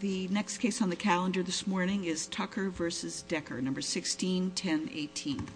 The next case on the calendar this morning is Tucker v. Decker, No. 161018.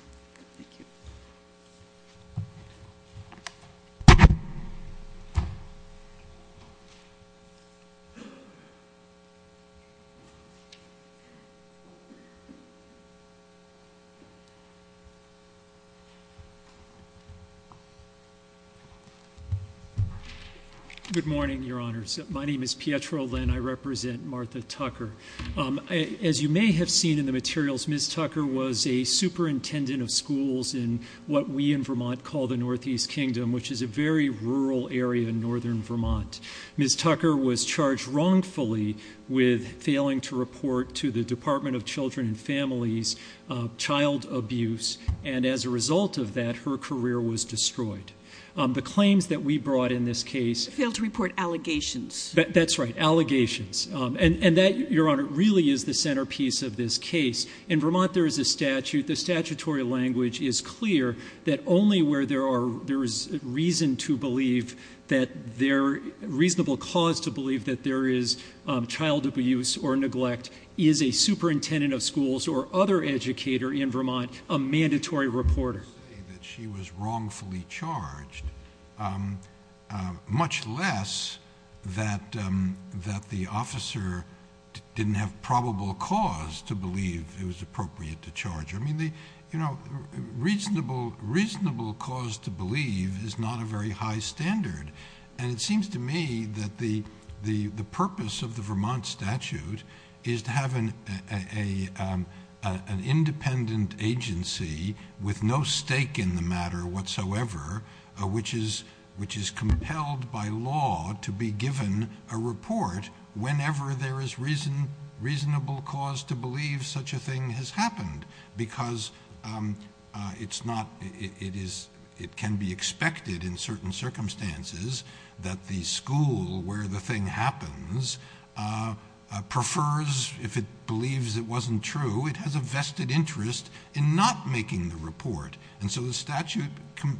Good morning, your honors. My name is Pietro Lynn. I represent Martha Tucker. As you may have seen in the materials, Ms. Tucker was a superintendent of schools in what we in Vermont call the Northeast Kingdom, which is a very rural area in northern Vermont. Ms. Tucker was charged wrongfully with failing to report to the Department of Children and Families child abuse, and as a result of that, her career was destroyed. The claims that we brought in this case... Failed to report allegations. That's right. Allegations. And that, your honor, really is the centerpiece of this case. In Vermont, there is a statute. The statutory language is clear that only where there is reason to believe that there...reasonable cause to believe that there is child abuse or neglect is a superintendent of schools or other educator in Vermont a mandatory reporter. I would say that she was wrongfully charged, much less that the officer didn't have probable cause to believe it was appropriate to charge her. I mean, the reasonable cause to believe is not a very high standard, and it seems to me that the purpose of the Vermont statute is to have an independent agency with no stake in the matter whatsoever, which is compelled by law to be given a report whenever there is reason...reasonable cause to believe such a thing has happened, because it's not...it is...it can be expected in certain circumstances that the school where the thing happens prefers, if it believes it wasn't true, it has a vested interest in not making the report. And so the statute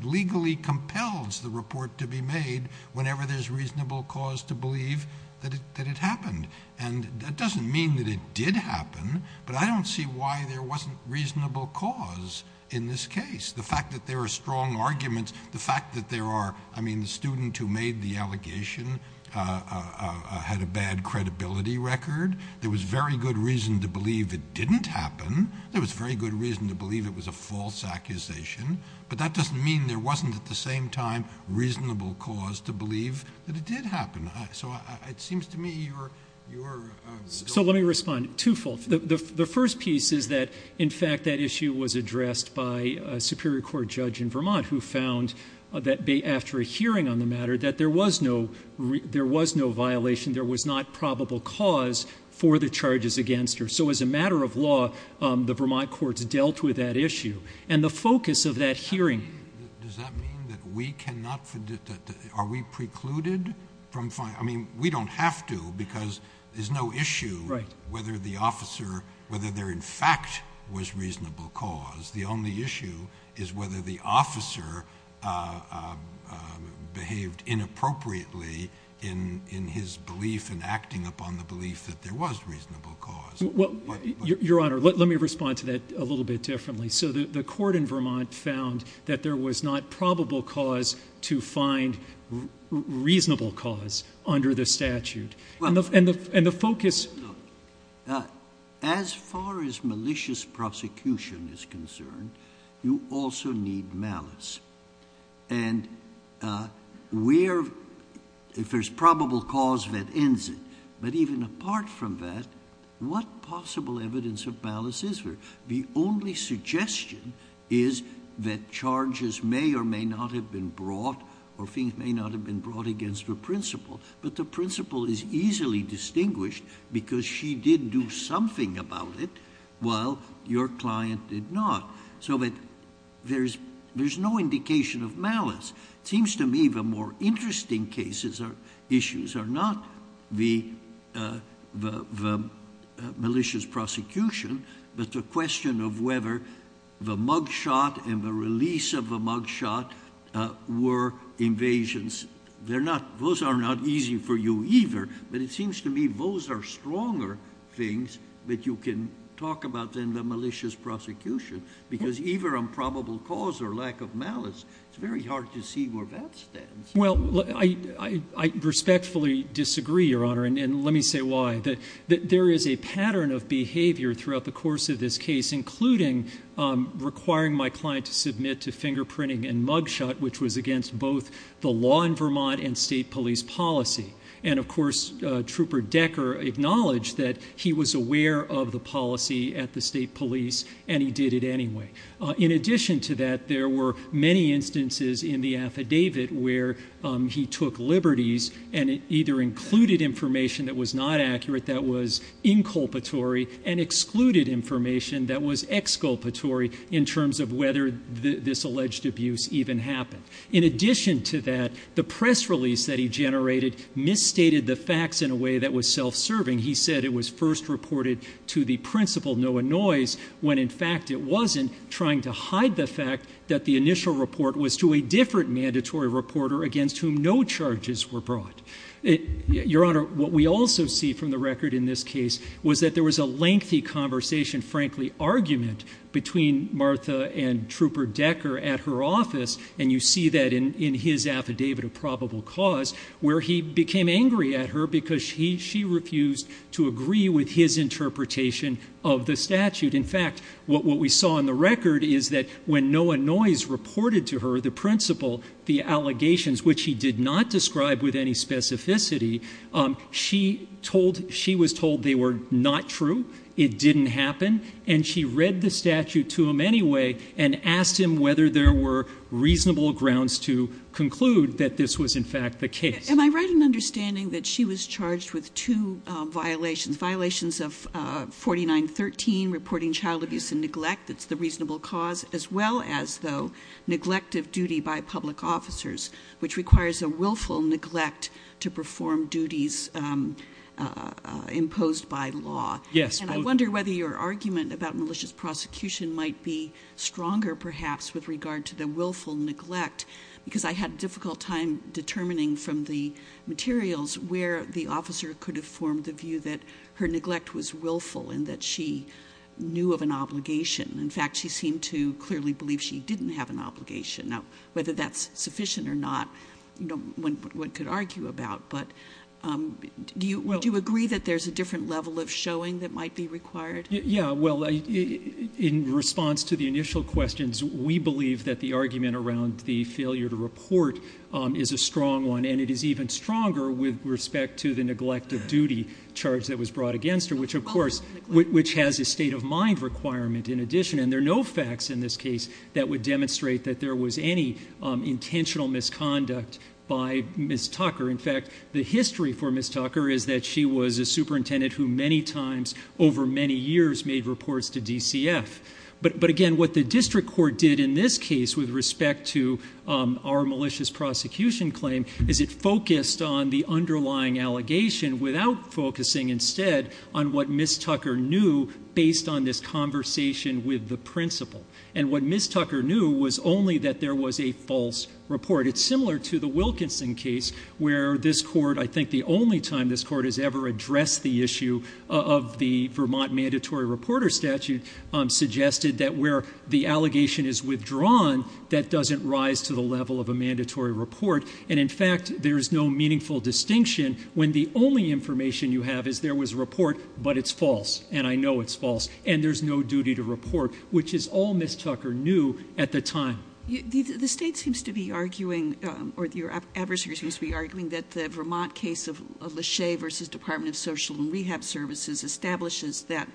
legally compels the report to be made whenever there's reasonable cause to believe that it happened. And that doesn't mean that it did happen, but I don't see why there wasn't reasonable cause in this case. The fact that there are strong arguments, the fact that there are...I mean, the student who made the allegation had a bad credibility record. There was very good reason to believe it didn't happen. There was very good reason to believe it was a false accusation. But that doesn't mean there wasn't at the same time reasonable cause to believe that it did happen. So it seems to me you're... So let me respond. Twofold. The first piece is that, in fact, that issue was addressed by a Superior Court judge in Vermont who found that after a hearing on the matter, that there was no violation, there was not probable cause for the charges against her. So as a matter of law, the Vermont courts dealt with that issue. And the focus of that hearing... Does that mean that we cannot...are we precluded from...I mean, we don't have to, because there's no issue whether the officer...whether there, in fact, was reasonable cause. The only issue is whether the officer behaved inappropriately in his belief and acting upon the belief that there was reasonable cause. Your Honor, let me respond to that a little bit differently. So the court in Vermont found that there was not probable cause to find reasonable cause under the statute. And the focus... As far as malicious prosecution is concerned, you also need malice. And where...if there's probable cause, that ends it. But even apart from that, what possible evidence of malice is there? The only suggestion is that charges may or may not have been brought or things may not have been brought against the principal. But the principal is easily distinguished because she did do something about it while your client did not. So that there's no indication of malice. It seems to me the more interesting cases or issues are not the malicious prosecution, but the question of whether the mugshot and the release of the mugshot were invasions. Those are not easy for you either, but it seems to me those are stronger things that you can talk about than the malicious prosecution, because either on probable cause or lack of malice, it's very hard to see where that stands. Well, I respectfully disagree, Your Honor, and let me say why. There is a pattern of the course of this case, including requiring my client to submit to fingerprinting and mugshot, which was against both the law in Vermont and state police policy. And of course, Trooper Decker acknowledged that he was aware of the policy at the state police and he did it anyway. In addition to that, there were many instances in the affidavit where he took liberties and either included information that was not accurate, that was inculpatory, and excluded information that was exculpatory in terms of whether this alleged abuse even happened. In addition to that, the press release that he generated misstated the facts in a way that was self-serving. He said it was first reported to the principal, Noah Noyes, when in fact it wasn't, trying to hide the fact that the initial report was to a different mandatory reporter against whom no charges were brought. Your Honor, what we also see from the record in this case was that there was a lengthy conversation, frankly argument, between Martha and Trooper Decker at her office, and you see that in his affidavit of probable cause, where he became angry at her because she refused to agree with his interpretation of the statute. In fact, what we saw in the record is that when Noah Noyes reported to her the principal, the allegations, which he did not describe with any specificity, she told, she was told they were not true, it didn't happen, and she read the statute to him anyway and asked him whether there were reasonable grounds to conclude that this was in fact the case. Am I right in understanding that she was charged with two violations? Violations of 4913, reporting child abuse and neglect, that's the reasonable cause, as well as though neglect of duty by law. And I wonder whether your argument about malicious prosecution might be stronger perhaps with regard to the willful neglect, because I had a difficult time determining from the materials where the officer could have formed the view that her neglect was willful and that she knew of an obligation. In fact, she seemed to clearly believe she didn't have an obligation. Now, whether that's sufficient or not, one could argue about, but do you agree that there's a different level of showing that might be required? Yeah. Well, in response to the initial questions, we believe that the argument around the failure to report is a strong one, and it is even stronger with respect to the neglect of duty charge that was brought against her, which of course, which has a state of mind requirement in addition. And there are no facts in this case that would demonstrate that there was any intentional misconduct by Ms. Tucker. In fact, the history for Ms. Tucker is that she was a superintendent who many times over many years made reports to DCF. But again, what the district court did in this case with respect to our malicious prosecution claim is it focused on the underlying allegation without focusing instead on what Ms. Tucker knew based on this conversation with the principal. And what Ms. Tucker knew was only that there was a false report. It's similar to the Wilkinson case where this court, I think the only time this court has ever addressed the issue of the Vermont mandatory reporter statute suggested that where the allegation is withdrawn, that doesn't rise to the level of a mandatory report. And in fact, there is no meaningful distinction when the only information you have is there was a report, but it's false. And I know it's false and there's no duty to report, which is all Ms. Tucker knew at the time. The state seems to be arguing or your adversary seems to be arguing that the Vermont case of Lachey versus Department of Social and Rehab Services establishes that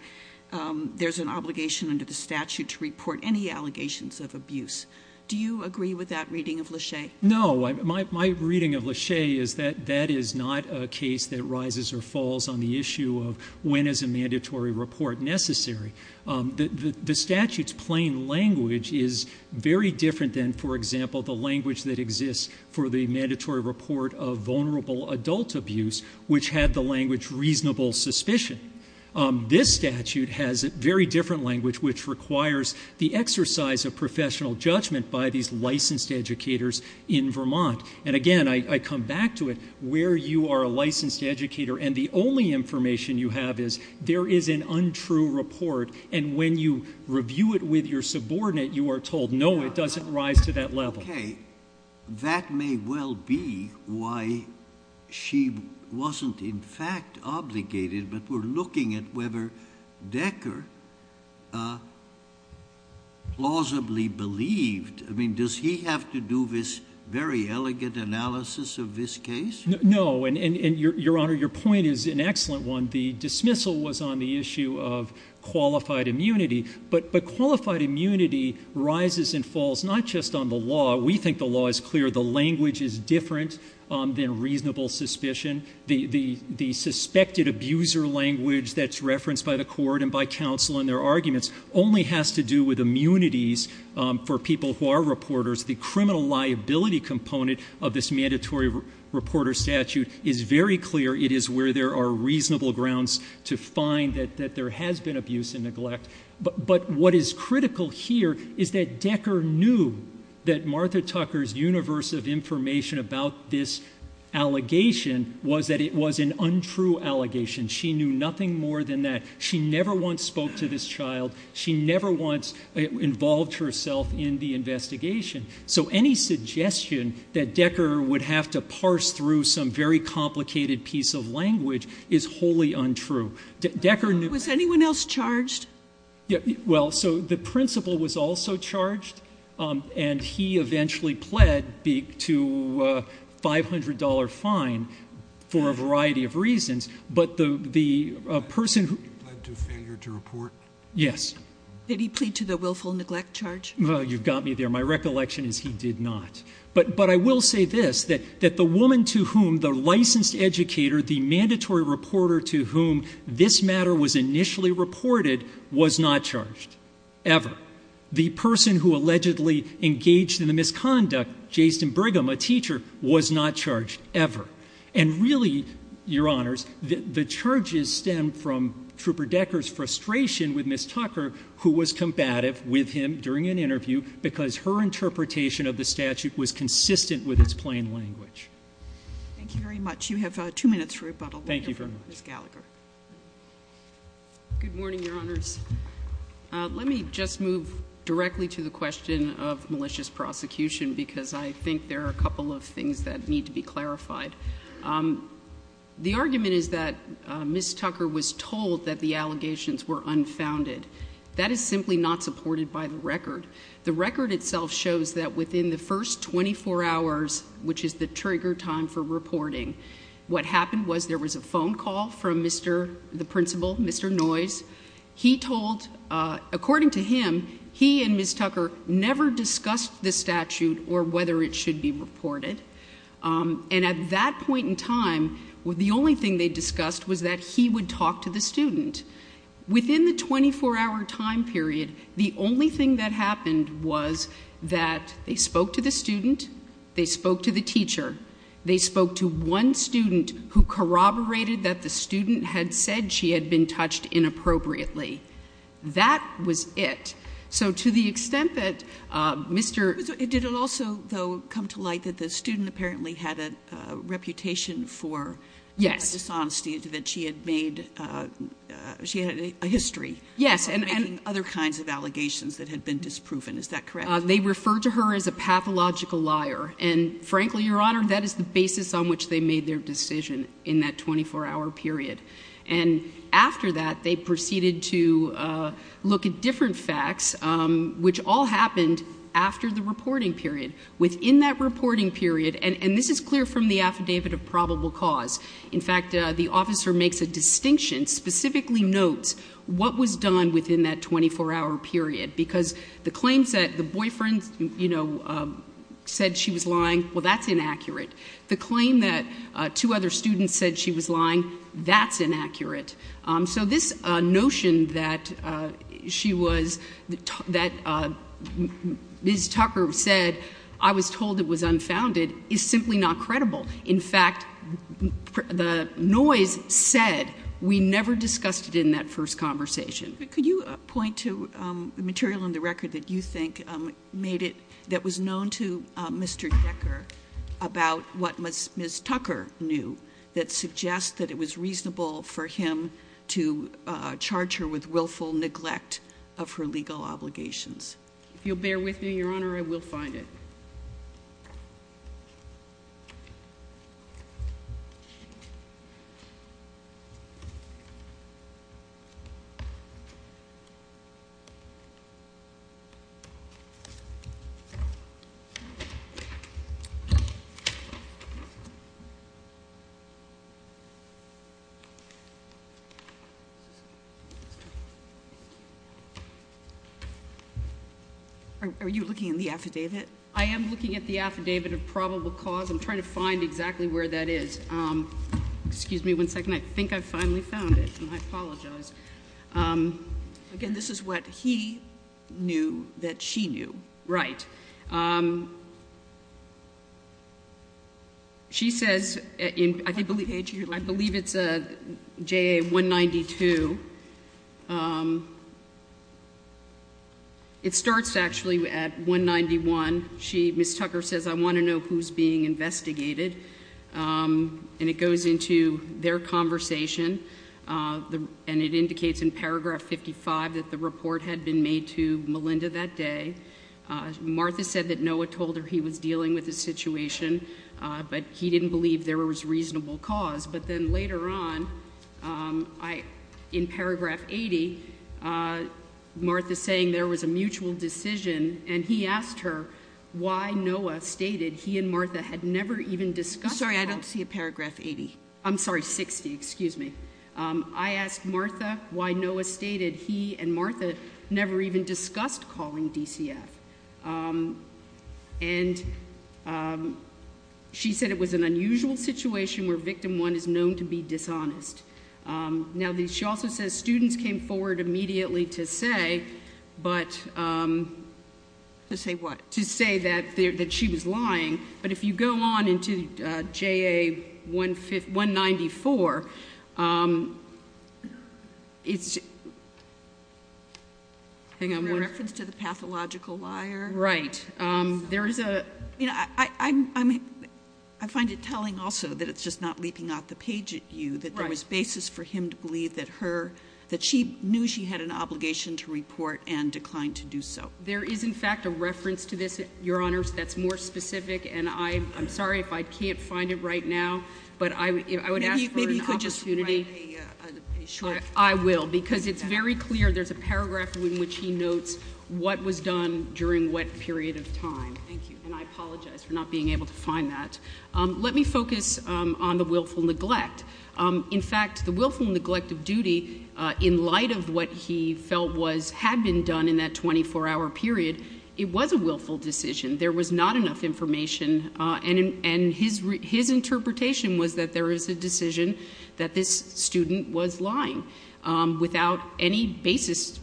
there's an obligation under the statute to report any allegations of abuse. Do you agree with that reading of Lachey? No. My reading of Lachey is that that is not a case that rises or falls on the issue of when is a mandatory report necessary. The statute's plain language is very different than, for example, the language that exists for the mandatory report of vulnerable adult abuse, which had the language reasonable suspicion. This statute has a very different language which requires the exercise of professional judgment by these licensed educators in Vermont. And again, I come back to it, where you are a licensed educator and the only information you have is there is an untrue report. And when you review it with your subordinate, you are told, no, it doesn't rise to that level. Okay. That may well be why she wasn't in fact obligated, but we're looking at whether Decker plausibly believed. I mean, does he have to do this very elegant analysis of this case? No. And your Honor, your point is an excellent one. The dismissal was on the issue of qualified immunity, but qualified immunity rises and falls not just on the law. We think the law is clear. The language is different than reasonable suspicion. The suspected abuser language that's in the counsel in their arguments only has to do with immunities for people who are reporters. The criminal liability component of this mandatory reporter statute is very clear. It is where there are reasonable grounds to find that there has been abuse and neglect. But what is critical here is that Decker knew that Martha Tucker's universe of information about this allegation was that it was an untrue allegation. She knew nothing more than that. She never once spoke to this child. She never once involved herself in the investigation. So any suggestion that Decker would have to parse through some very complicated piece of language is wholly untrue. Was anyone else charged? Well, so the principal was also charged, and he eventually pled to a $500 fine for a variety of reasons, but the person who... Did he plead to failure to report? Yes. Did he plead to the willful neglect charge? Oh, you've got me there. My recollection is he did not. But I will say this, that the woman to whom the licensed educator, the mandatory reporter to whom this matter was initially reported was not charged, ever. The person who allegedly engaged in the misconduct, Jayston Brigham, a teacher, was not charged, ever. And really, Your Honors, the charges stem from Trooper Decker's frustration with Ms. Tucker, who was combative with him during an interview because her interpretation of the statute was consistent with its plain language. Thank you very much. You have two minutes for rebuttal. Thank you very much. Ms. Gallagher. Good morning, Your Honors. Let me just move directly to the question of malicious prosecution because I think there are a couple of things that need to be clarified. The argument is that Ms. Tucker was told that the allegations were unfounded. That is simply not supported by the record. The record itself shows that within the first 24 hours, which is the trigger time for reporting, what happened was there was a phone call from Mr., the principal, Mr. Noyes. He told, according to him, he and Ms. Tucker never discussed the statute or whether it should be reported. And at that point in time, the only thing they discussed was that he would talk to the student. Within the 24-hour time period, the only thing that happened was that they spoke to the student, they spoke to the teacher, they spoke to one another, and they touched inappropriately. That was it. So to the extent that Mr. But did it also, though, come to light that the student apparently had a reputation for dishonesty? Yes. That she had made, she had a history of making other kinds of allegations that had been disproven. Is that correct? They referred to her as a pathological liar. And frankly, Your Honor, that is the basis on which they made their decision in that 24-hour period. And after that, they proceeded to look at different facts, which all happened after the reporting period. Within that reporting period, and this is clear from the affidavit of probable cause. In fact, the officer makes a distinction, specifically notes what was done within that 24-hour period. Because the claim that two other students said she was lying, that's inaccurate. So this notion that she was, that Ms. Tucker said, I was told it was unfounded, is simply not credible. In fact, the noise said we never discussed it in that first conversation. Could you point to material in the record that you think made it, that was known to Ms. Tucker knew, that suggests that it was reasonable for him to charge her with willful neglect of her legal obligations? If you'll bear with me, Your Honor, I will find it. Are you looking at the affidavit? I am looking at the affidavit of probable cause. I'm trying to find exactly where that is. Excuse me one second. I think I finally found it, and I apologize. Again, this is what he knew that she knew. Right. She says, I believe it's JA 192. It starts actually at 191. She, Ms. Tucker says, I want to know who's being investigated. And it goes into their conversation, and it indicates in paragraph 55 that the report had been made to Melinda that day. Martha said that Noah told her he was dealing with the situation, but he didn't believe there was reasonable cause. But then later on, I, in paragraph 80, Martha's saying there was a mutual decision, and he asked her why Noah stated he and Martha had never even discussed. I'm sorry, I don't see a paragraph 80. I'm sorry, 60, excuse me. I asked Martha why Noah stated he and Martha never even discussed calling DCF. And she said it was an unusual situation where victim one is known to be dishonest. Now, she also says students came forward immediately to say, but To say what? To say that she was lying. But if you go on into JA 194, it's, hang on. In reference to the pathological liar? Right. There is a, you know, I find it telling also that it's just not leaping out the page at you, that there was basis for him to believe that her, that she knew she had an obligation to report and declined to do so. There is, in fact, a reference to this, Your Honors, that's more specific. And I'm sorry if I can't find it right now, but I would ask for an opportunity. Maybe you could just write a short. I will, because it's very clear there's a paragraph in which he notes what was done during what period of time. Thank you. And I apologize for not being able to find that. Let me focus on the willful neglect. In fact, the willful neglect of duty, in light of what he felt was, had been done in that 24-hour period, it was a willful decision. There was not enough information. And his interpretation was that there is a decision that this student was lying without any basis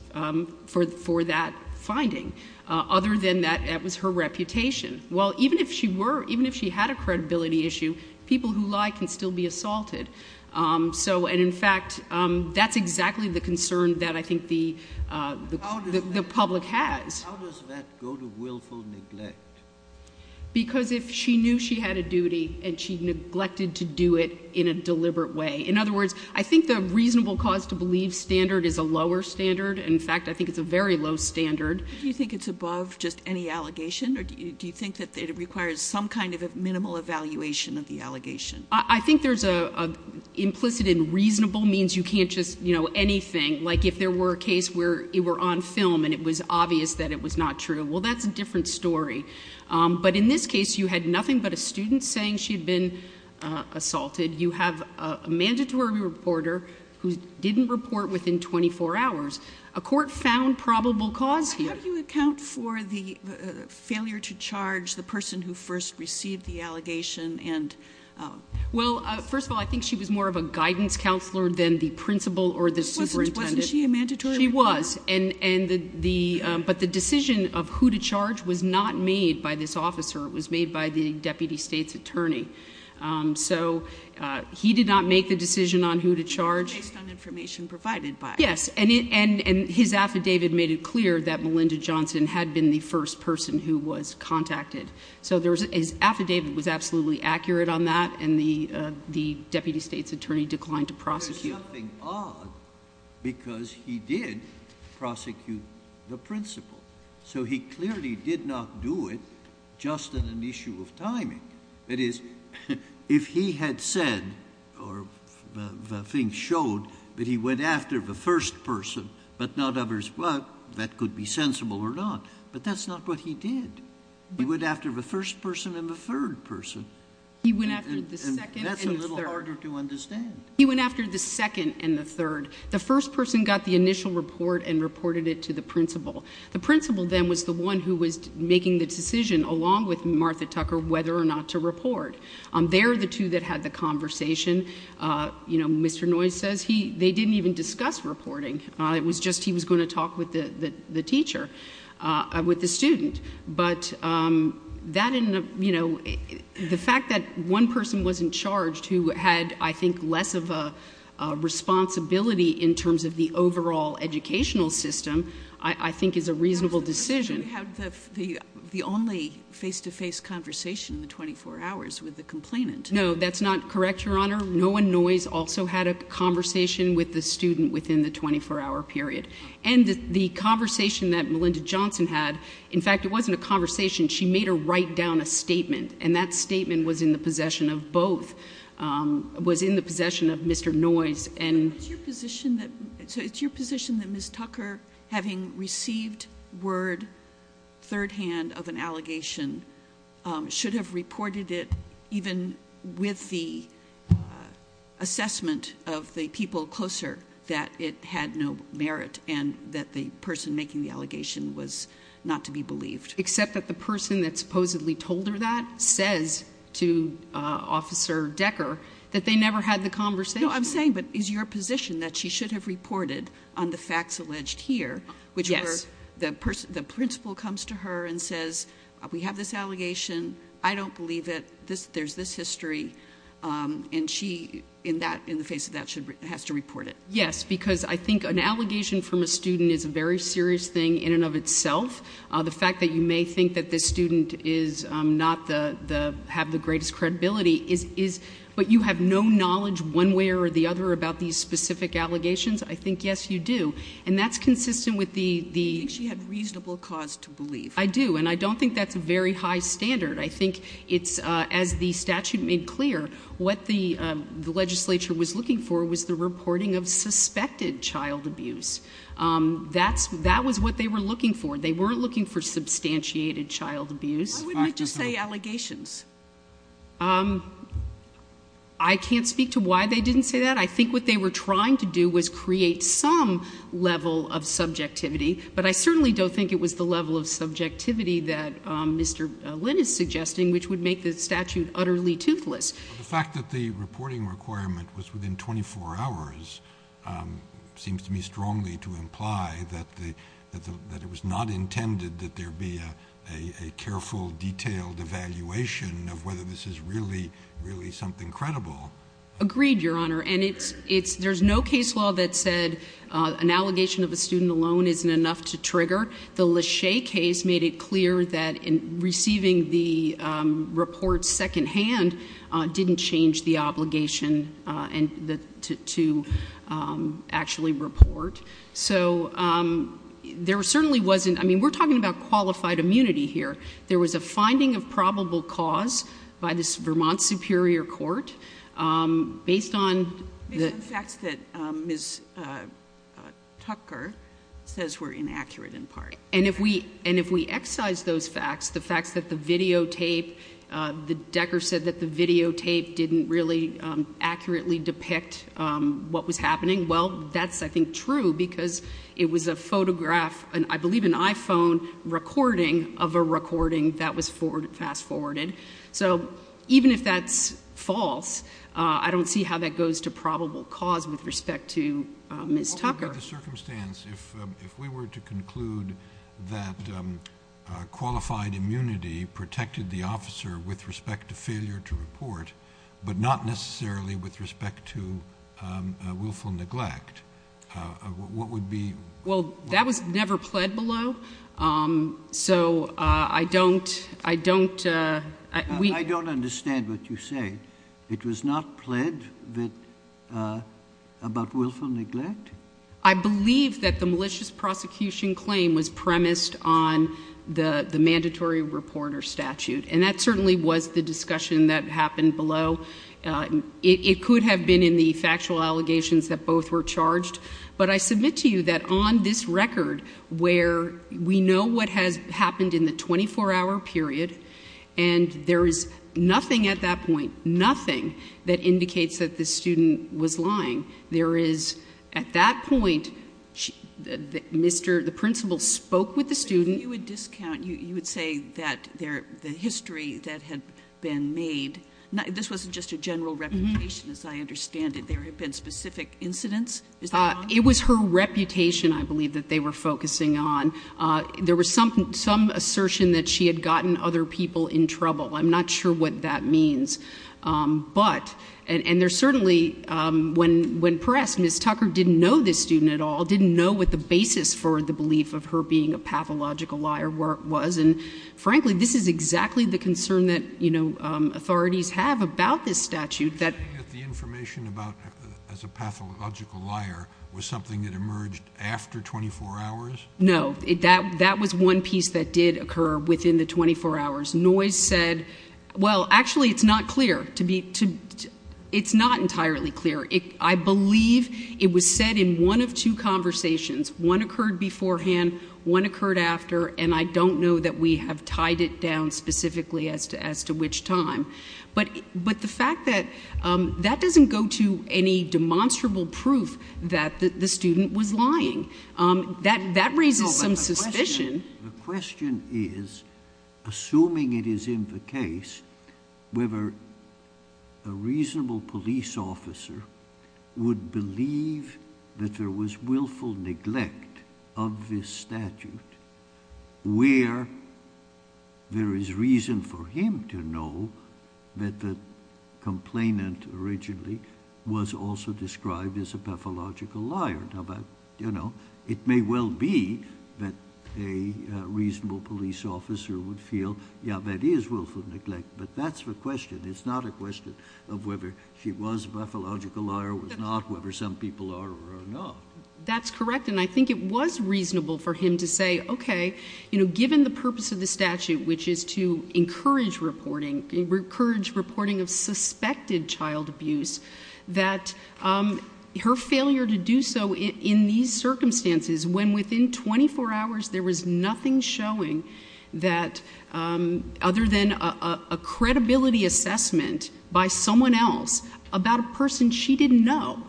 for that finding, other than that it was her reputation. Well, even if she were, even if she had a credibility issue, people who lie can still be assaulted. So, and in fact, that's exactly the concern that I think the public has. How does that go to willful neglect? Because if she knew she had a duty and she neglected to do it in a deliberate way. In other words, I think the reasonable cause to believe standard is a lower standard. In fact, I think it's a very low standard. Do you think it's above just any allegation? Or do you think that it requires some kind of a minimal evaluation of the allegation? I think there's an implicit and reasonable means you can't just, you know, anything. If there were a case where it were on film and it was obvious that it was not true, well, that's a different story. But in this case, you had nothing but a student saying she had been assaulted. You have a mandatory reporter who didn't report within 24 hours. A court found probable cause here. How do you account for the failure to charge the person who first received the allegation? Well, first of all, I think she was more of a guidance counselor than the principal or the superintendent. Wasn't she a mandatory reporter? She was. But the decision of who to charge was not made by this officer. It was made by the deputy state's attorney. So he did not make the decision on who to charge. It was based on information provided by him. Yes. And his affidavit made it clear that Melinda Johnson had been the first person who was contacted. So his affidavit was absolutely accurate on that and the deputy state's attorney declined to prosecute. There's nothing odd because he did prosecute the principal. So he clearly did not do it just on an issue of timing. That is, if he had said or the thing showed that he went after the first person but not others, well, that could be sensible or not. But that's not what he did. He went after the first person and the third person. He went after the second and the third. And that's a little harder to understand. He went after the second and the third. The first person got the initial report and reported it to the principal. The principal then was the one who was making the decision along with Martha Tucker whether or not to report. They're the two that had the conversation. Mr. Noyes says they didn't even discuss reporting. It was just he was going to talk with the teacher, with the student. But the fact that one person wasn't charged who had, I think, less of a responsibility in terms of the overall educational system, I think is a reasonable decision. You have the only face-to-face conversation in the 24 hours with the complainant. No, that's not correct, Your Honor. Noah Noyes also had a conversation with the student within the 24-hour period. And the conversation that Melinda Johnson had, in fact, it wasn't a conversation. She made her write down a statement. And that was in the possession of Mr. Noyes. So it's your position that Ms. Tucker, having received word third-hand of an allegation, should have reported it even with the assessment of the people closer that it had no merit and that the person making the allegation was not to be believed? Except that the person that supposedly told her that says to Officer Decker that they never had the conversation. No, I'm saying, but is your position that she should have reported on the facts alleged here, which were the principal comes to her and says, we have this allegation, I don't believe it, there's this history, and she, in the face of that, has to report it? Yes, because I think an allegation from a student is a very serious thing in and of itself. The fact that you may think that this student is not the, have the greatest credibility, is, but you have no knowledge one way or the other about these specific allegations? I think, yes, you do. And that's consistent with the... She had reasonable cause to believe. I do. And I don't think that's a very high standard. I think it's, as the statute made clear, what the legislature was looking for was the reporting of suspected child abuse. That's, that was what they were looking for. They weren't looking for substantiated child abuse. Why wouldn't it just say allegations? I can't speak to why they didn't say that. I think what they were trying to do was create some level of subjectivity, but I certainly don't think it was the level of subjectivity that Mr. Lin is suggesting, which would make the statute utterly toothless. The fact that the reporting requirement was within 24 hours seems to me strongly to imply that the, that the, that it was not intended that there be a, a, a careful detailed evaluation of whether this is really, really something credible. Agreed, Your Honor. And it's, it's, there's no case law that said an allegation of a student alone isn't enough to trigger. The Lachey case made it clear that in receiving the report second hand didn't change the obligation and the, to, to actually report. So there certainly wasn't, I mean, we're talking about qualified immunity here. There was a finding of probable cause by this Vermont Superior Court based on the facts that Ms. Tucker says were inaccurate in part. And if we, and if we excise those facts, the facts that the videotape, the Decker said that the videotape didn't really accurately depict what was happening. Well, that's I think true because it was a photograph, I believe an iPhone recording of a recording that was fast forwarded. So even if that's false, I don't see how that goes to probable cause with respect to Ms. Tucker. What would be the circumstance if, if we were to conclude that qualified immunity protected the officer with respect to failure to report, but not necessarily with respect to willful neglect, what would be? Well, that was never pled below. So I don't, I don't, uh, I don't understand what you say. It was not pled that, uh, about willful neglect. I believe that the malicious prosecution claim was premised on the mandatory report or statute. And that certainly was the discussion that happened below. It could have been in the factual allegations that both were charged. But I submit to you that on this record, where we know what has happened in the 24 hour period, and there is nothing at that point, nothing that indicates that the student was lying. There is, at that point, Mr., the principal spoke with the student. You would discount, you would say that there, the history that had been made, this wasn't just a general reputation as I understand it. There have been specific incidents. It was her reputation. I believe that they were focusing on, uh, there was some, some assertion that she had gotten other people in trouble. I'm not sure what that means. Um, but, and, and there's certainly, um, when, when pressed Ms. Tucker didn't know this student at all, didn't know what the basis for the belief of her being a pathological liar was. And frankly, this is exactly the concern that, you know, um, authorities have about this statute that the information about as a pathological liar was something that emerged after 24 hours. No, it, that, that was one piece that did occur within the 24 hours noise said, well, actually it's not clear to be, to, it's not entirely clear. It, I believe it was said in one of two conversations, one occurred beforehand, one occurred after, and I don't know that we have tied it down specifically as to, as to which time, but, but the fact that, um, that doesn't go to any demonstrable proof that the student was lying. Um, that, that raises some suspicion. The question is, assuming it is in the case, whether a reasonable police officer would believe that there was willful neglect of this statute, where there is reason for him to know that the complainant originally was also described as a pathological liar. How about, you know, it may well be that a reasonable police officer would feel, yeah, that is willful neglect, but that's the question. It's not a question of whether she was a pathological liar, was not, whether some people are or are not. That's correct. And I think it was reasonable for him to say, okay, you know, given the purpose of the statute, which is to encourage reporting, encourage reporting of suspected child abuse, that, um, her failure to do so in these circumstances, when within 24 hours, there was nothing showing that, um, other than a credibility assessment by someone else about a person she didn't know.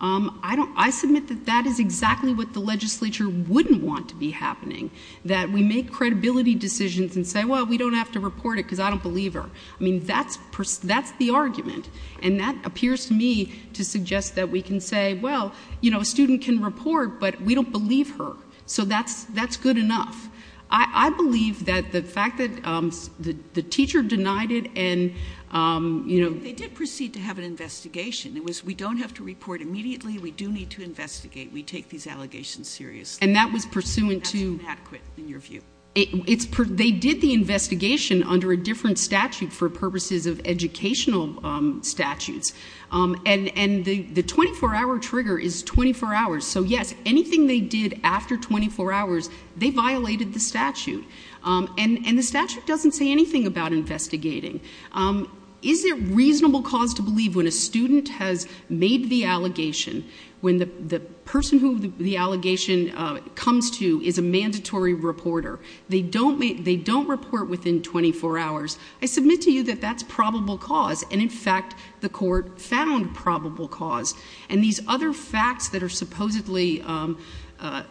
Um, I don't, I submit that that is exactly what the legislature wouldn't want to be happening, that we make credibility decisions and say, well, we don't have to report it because I don't believe her. I mean, that's, that's the argument. And that appears to me to suggest that we can say, well, you know, a student can report, but we don't believe her. So that's, that's good enough. I, I believe that the fact that, um, the teacher denied it and, um, you know. They did proceed to have an investigation. It was, we don't have to report immediately. We do need to investigate. We take these allegations seriously. And that was pursuant to. That's inadequate in your view. It's, they did the investigation under a different statute for purposes of educational, um, statutes. Um, and, and the, the 24 hour trigger is 24 hours. So yes, anything they did after 24 hours, they violated the statute. Um, and, and the statute doesn't say anything about investigating. Um, is there reasonable cause to believe when a student has made the allegation, when the, the person who the allegation, uh, comes to is a mandatory reporter. They don't make, they don't report within 24 hours. I submit to you that that's probable cause. And in fact, the court found probable cause. And these other facts that are supposedly, um, uh,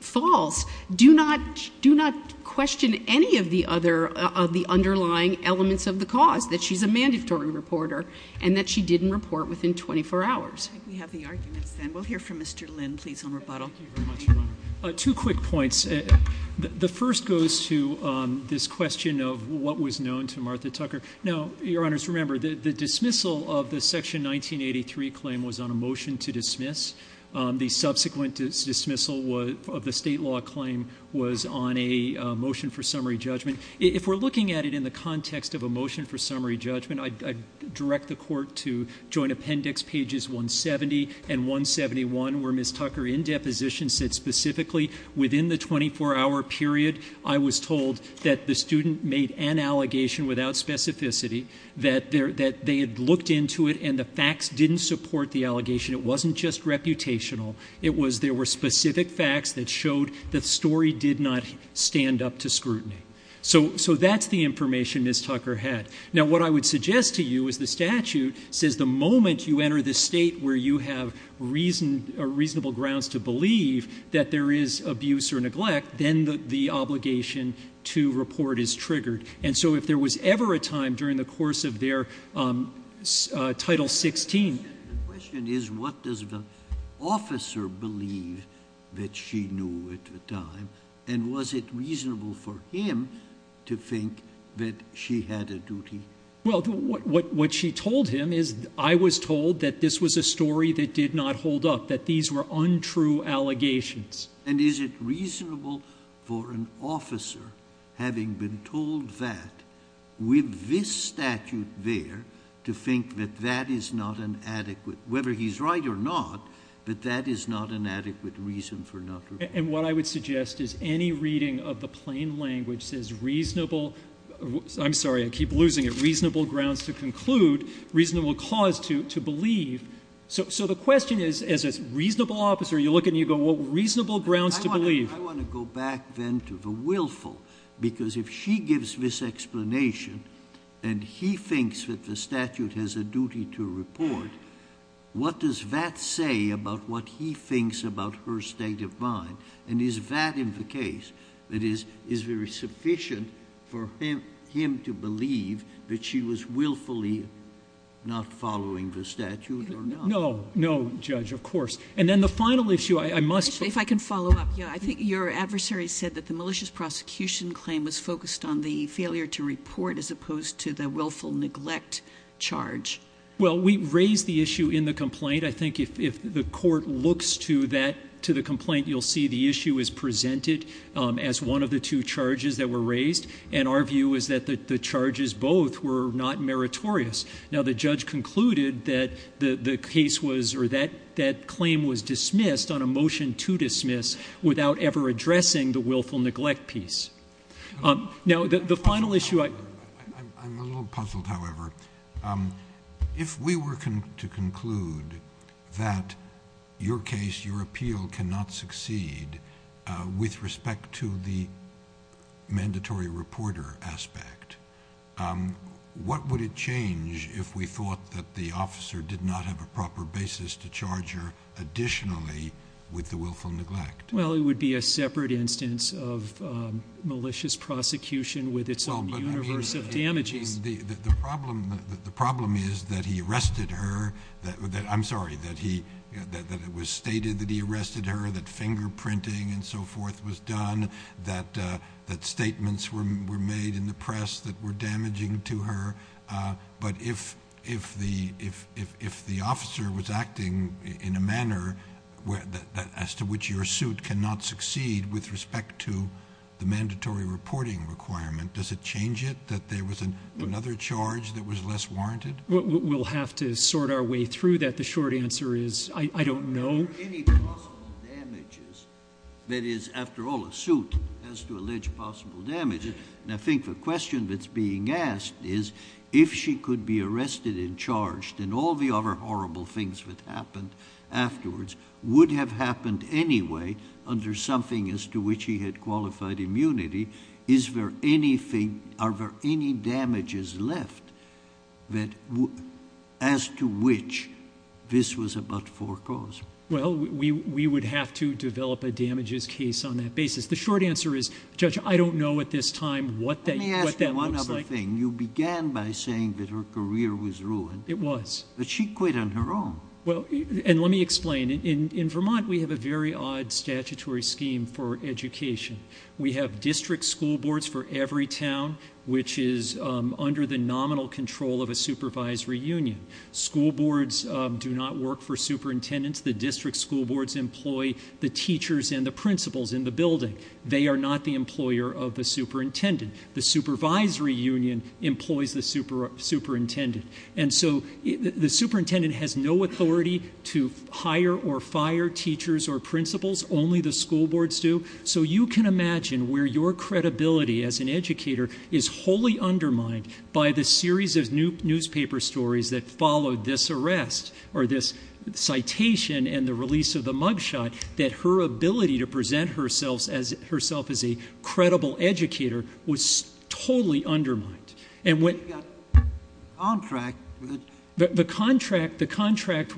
false do not, do not question any of the other, of the underlying elements of the cause that she's a mandatory reporter and that she didn't report within 24 hours. We have the arguments then we'll hear from Mr. Lynn, please on rebuttal. Two quick points. The first goes to, um, this question of what was known to Martha Tucker. Now, your honors, remember the dismissal of the section 1983 claim was on a motion to dismiss. Um, the subsequent dismissal of the state law claim was on a motion for summary judgment. If we're looking at it in the context of a motion for summary judgment, I direct the court to joint appendix pages 170 and 171 where Ms. Tucker in deposition said specifically within the 24 hour period, I was told that the student made an allegation without specificity that there, that they had looked into it and the facts didn't support the allegation. It wasn't just reputational. It was, there were specific facts that showed that story did not stand up to scrutiny. So, so that's the information Ms. Tucker had. Now, what I would suggest to you is the statute says the moment you enter the state where you have reason, a reasonable grounds to believe that there is abuse or neglect, then the obligation to report is triggered. And so if there was ever a time during the course of their, um, uh, title 16, The question is, what does the officer believe that she knew at the time? And was it reasonable for him to think that she had a duty? Well, what, what she told him is I was told that this was a story that did not hold up, that these were untrue allegations. And is it reasonable for an officer having been told that with this statute there to think that that is not an adequate, whether he's right or not, but that is not an adequate reason for not. And what I would suggest is any reading of the plain language says reasonable, I'm sorry, I keep losing it. Reasonable grounds to conclude reasonable cause to, to believe. So, so the question is, as a reasonable officer, you look and you go, well, reasonable grounds to believe. I want to go back then to the willful, because if she gives this explanation and he thinks that the statute has a duty to report, what does that say about what he thinks about her state of mind? And is that in the case that is, is very sufficient for him, him to believe that she was willfully not following the statute or not? No, no judge, of course. And then the final issue I must. If I can follow up. Yeah, I think your adversary said that the malicious prosecution claim was focused on the failure to report as opposed to the willful neglect charge. Well, we raised the issue in the complaint. I think if the court looks to that, to the complaint, you'll see the issue is presented as one of the two charges that were raised. And our view is that the charges both were not meritorious. Now, the judge concluded that the case was, or that that claim was dismissed on a motion to dismiss without ever addressing the willful neglect piece. Now the final issue, I'm a little puzzled, however, if we were to conclude that your case, your appeal cannot succeed with respect to the mandatory reporter aspect. What would it change if we thought that the officer did not have a proper basis to charge her additionally with the willful neglect? Well, it would be a separate instance of malicious prosecution with its own universe of damages. The problem is that he arrested her. I'm sorry, that it was stated that he arrested her, that fingerprinting and so forth was done, that statements were made in the press that were damaging to her. But if the officer was acting in a manner as to which your suit cannot succeed with respect to the mandatory reporting requirement, does it change it that there was another charge that was less warranted? We'll have to sort our way through that. The short answer is, I don't know. Are there any possible damages? That is, after all, a suit has to allege possible damages. And I think the question that's being asked is, if she could be arrested and charged and all the other horrible things that happened afterwards would have happened anyway under something as to which he had qualified immunity, is there anything, are there any damages left as to which this was about forecaused? Well, we would have to develop a damages case on that basis. The short answer is, Judge, I don't know at this time what that looks like. Let me ask you one other thing. You began by saying that her career was ruined. It was. But she quit on her own. Well, and let me explain. In Vermont, we have a very odd statutory scheme for education. We have district school boards for every town, which is under the nominal control of a supervisory union. School boards do not work for superintendents. The district school boards employ the teachers and the principals in the building. They are not the employer of the superintendent. The supervisory union employs the superintendent. And so the superintendent has no authority to hire or fire teachers or supervisors. I can't imagine where your credibility as an educator is wholly undermined by the series of newspaper stories that followed this arrest or this citation and the release of the mugshot that her ability to present herself as herself as a credible educator was totally undermined. And when you got contract. The contract, the contract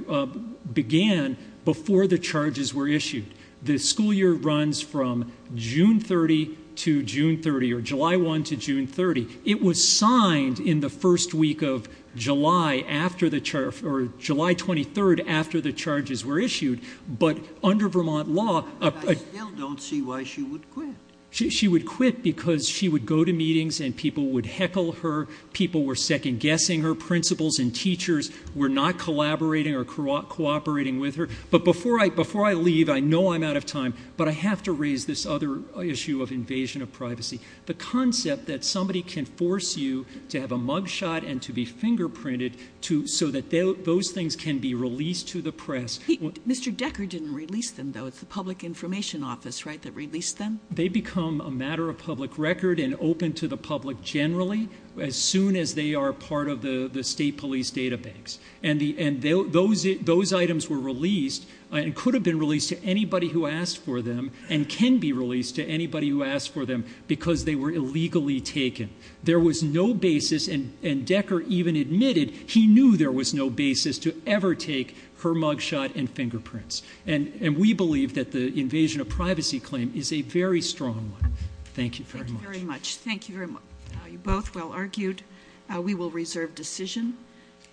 began before the charges were issued. The school year runs from June 30 to June 30 or July 1 to June 30. It was signed in the first week of July after the charge or July 23 after the charges were issued. But under Vermont law, I still don't see why she would quit. She would quit because she would go to meetings and people would heckle her. People were second guessing her principals and teachers were not collaborating or cooperating with her. But before I before I leave, I know I'm out of time, but I have to raise this other issue of invasion of privacy. The concept that somebody can force you to have a mugshot and to be fingerprinted to so that those things can be released to the press. Mr. Decker didn't release them, though. It's the Public Information Office, right, that released them. They become a matter of public record and open to the public generally as soon as they are part of the state police databanks. And those items were released and could have been released to anybody who asked for them and can be released to anybody who asked for them because they were illegally taken. There was no basis, and Decker even admitted he knew there was no basis to ever take her mugshot and fingerprints. And we believe that the invasion of privacy claim is a very strong one. Thank you very much. Thank you very much. Thank you very much. You both well argued. We will reserve decision.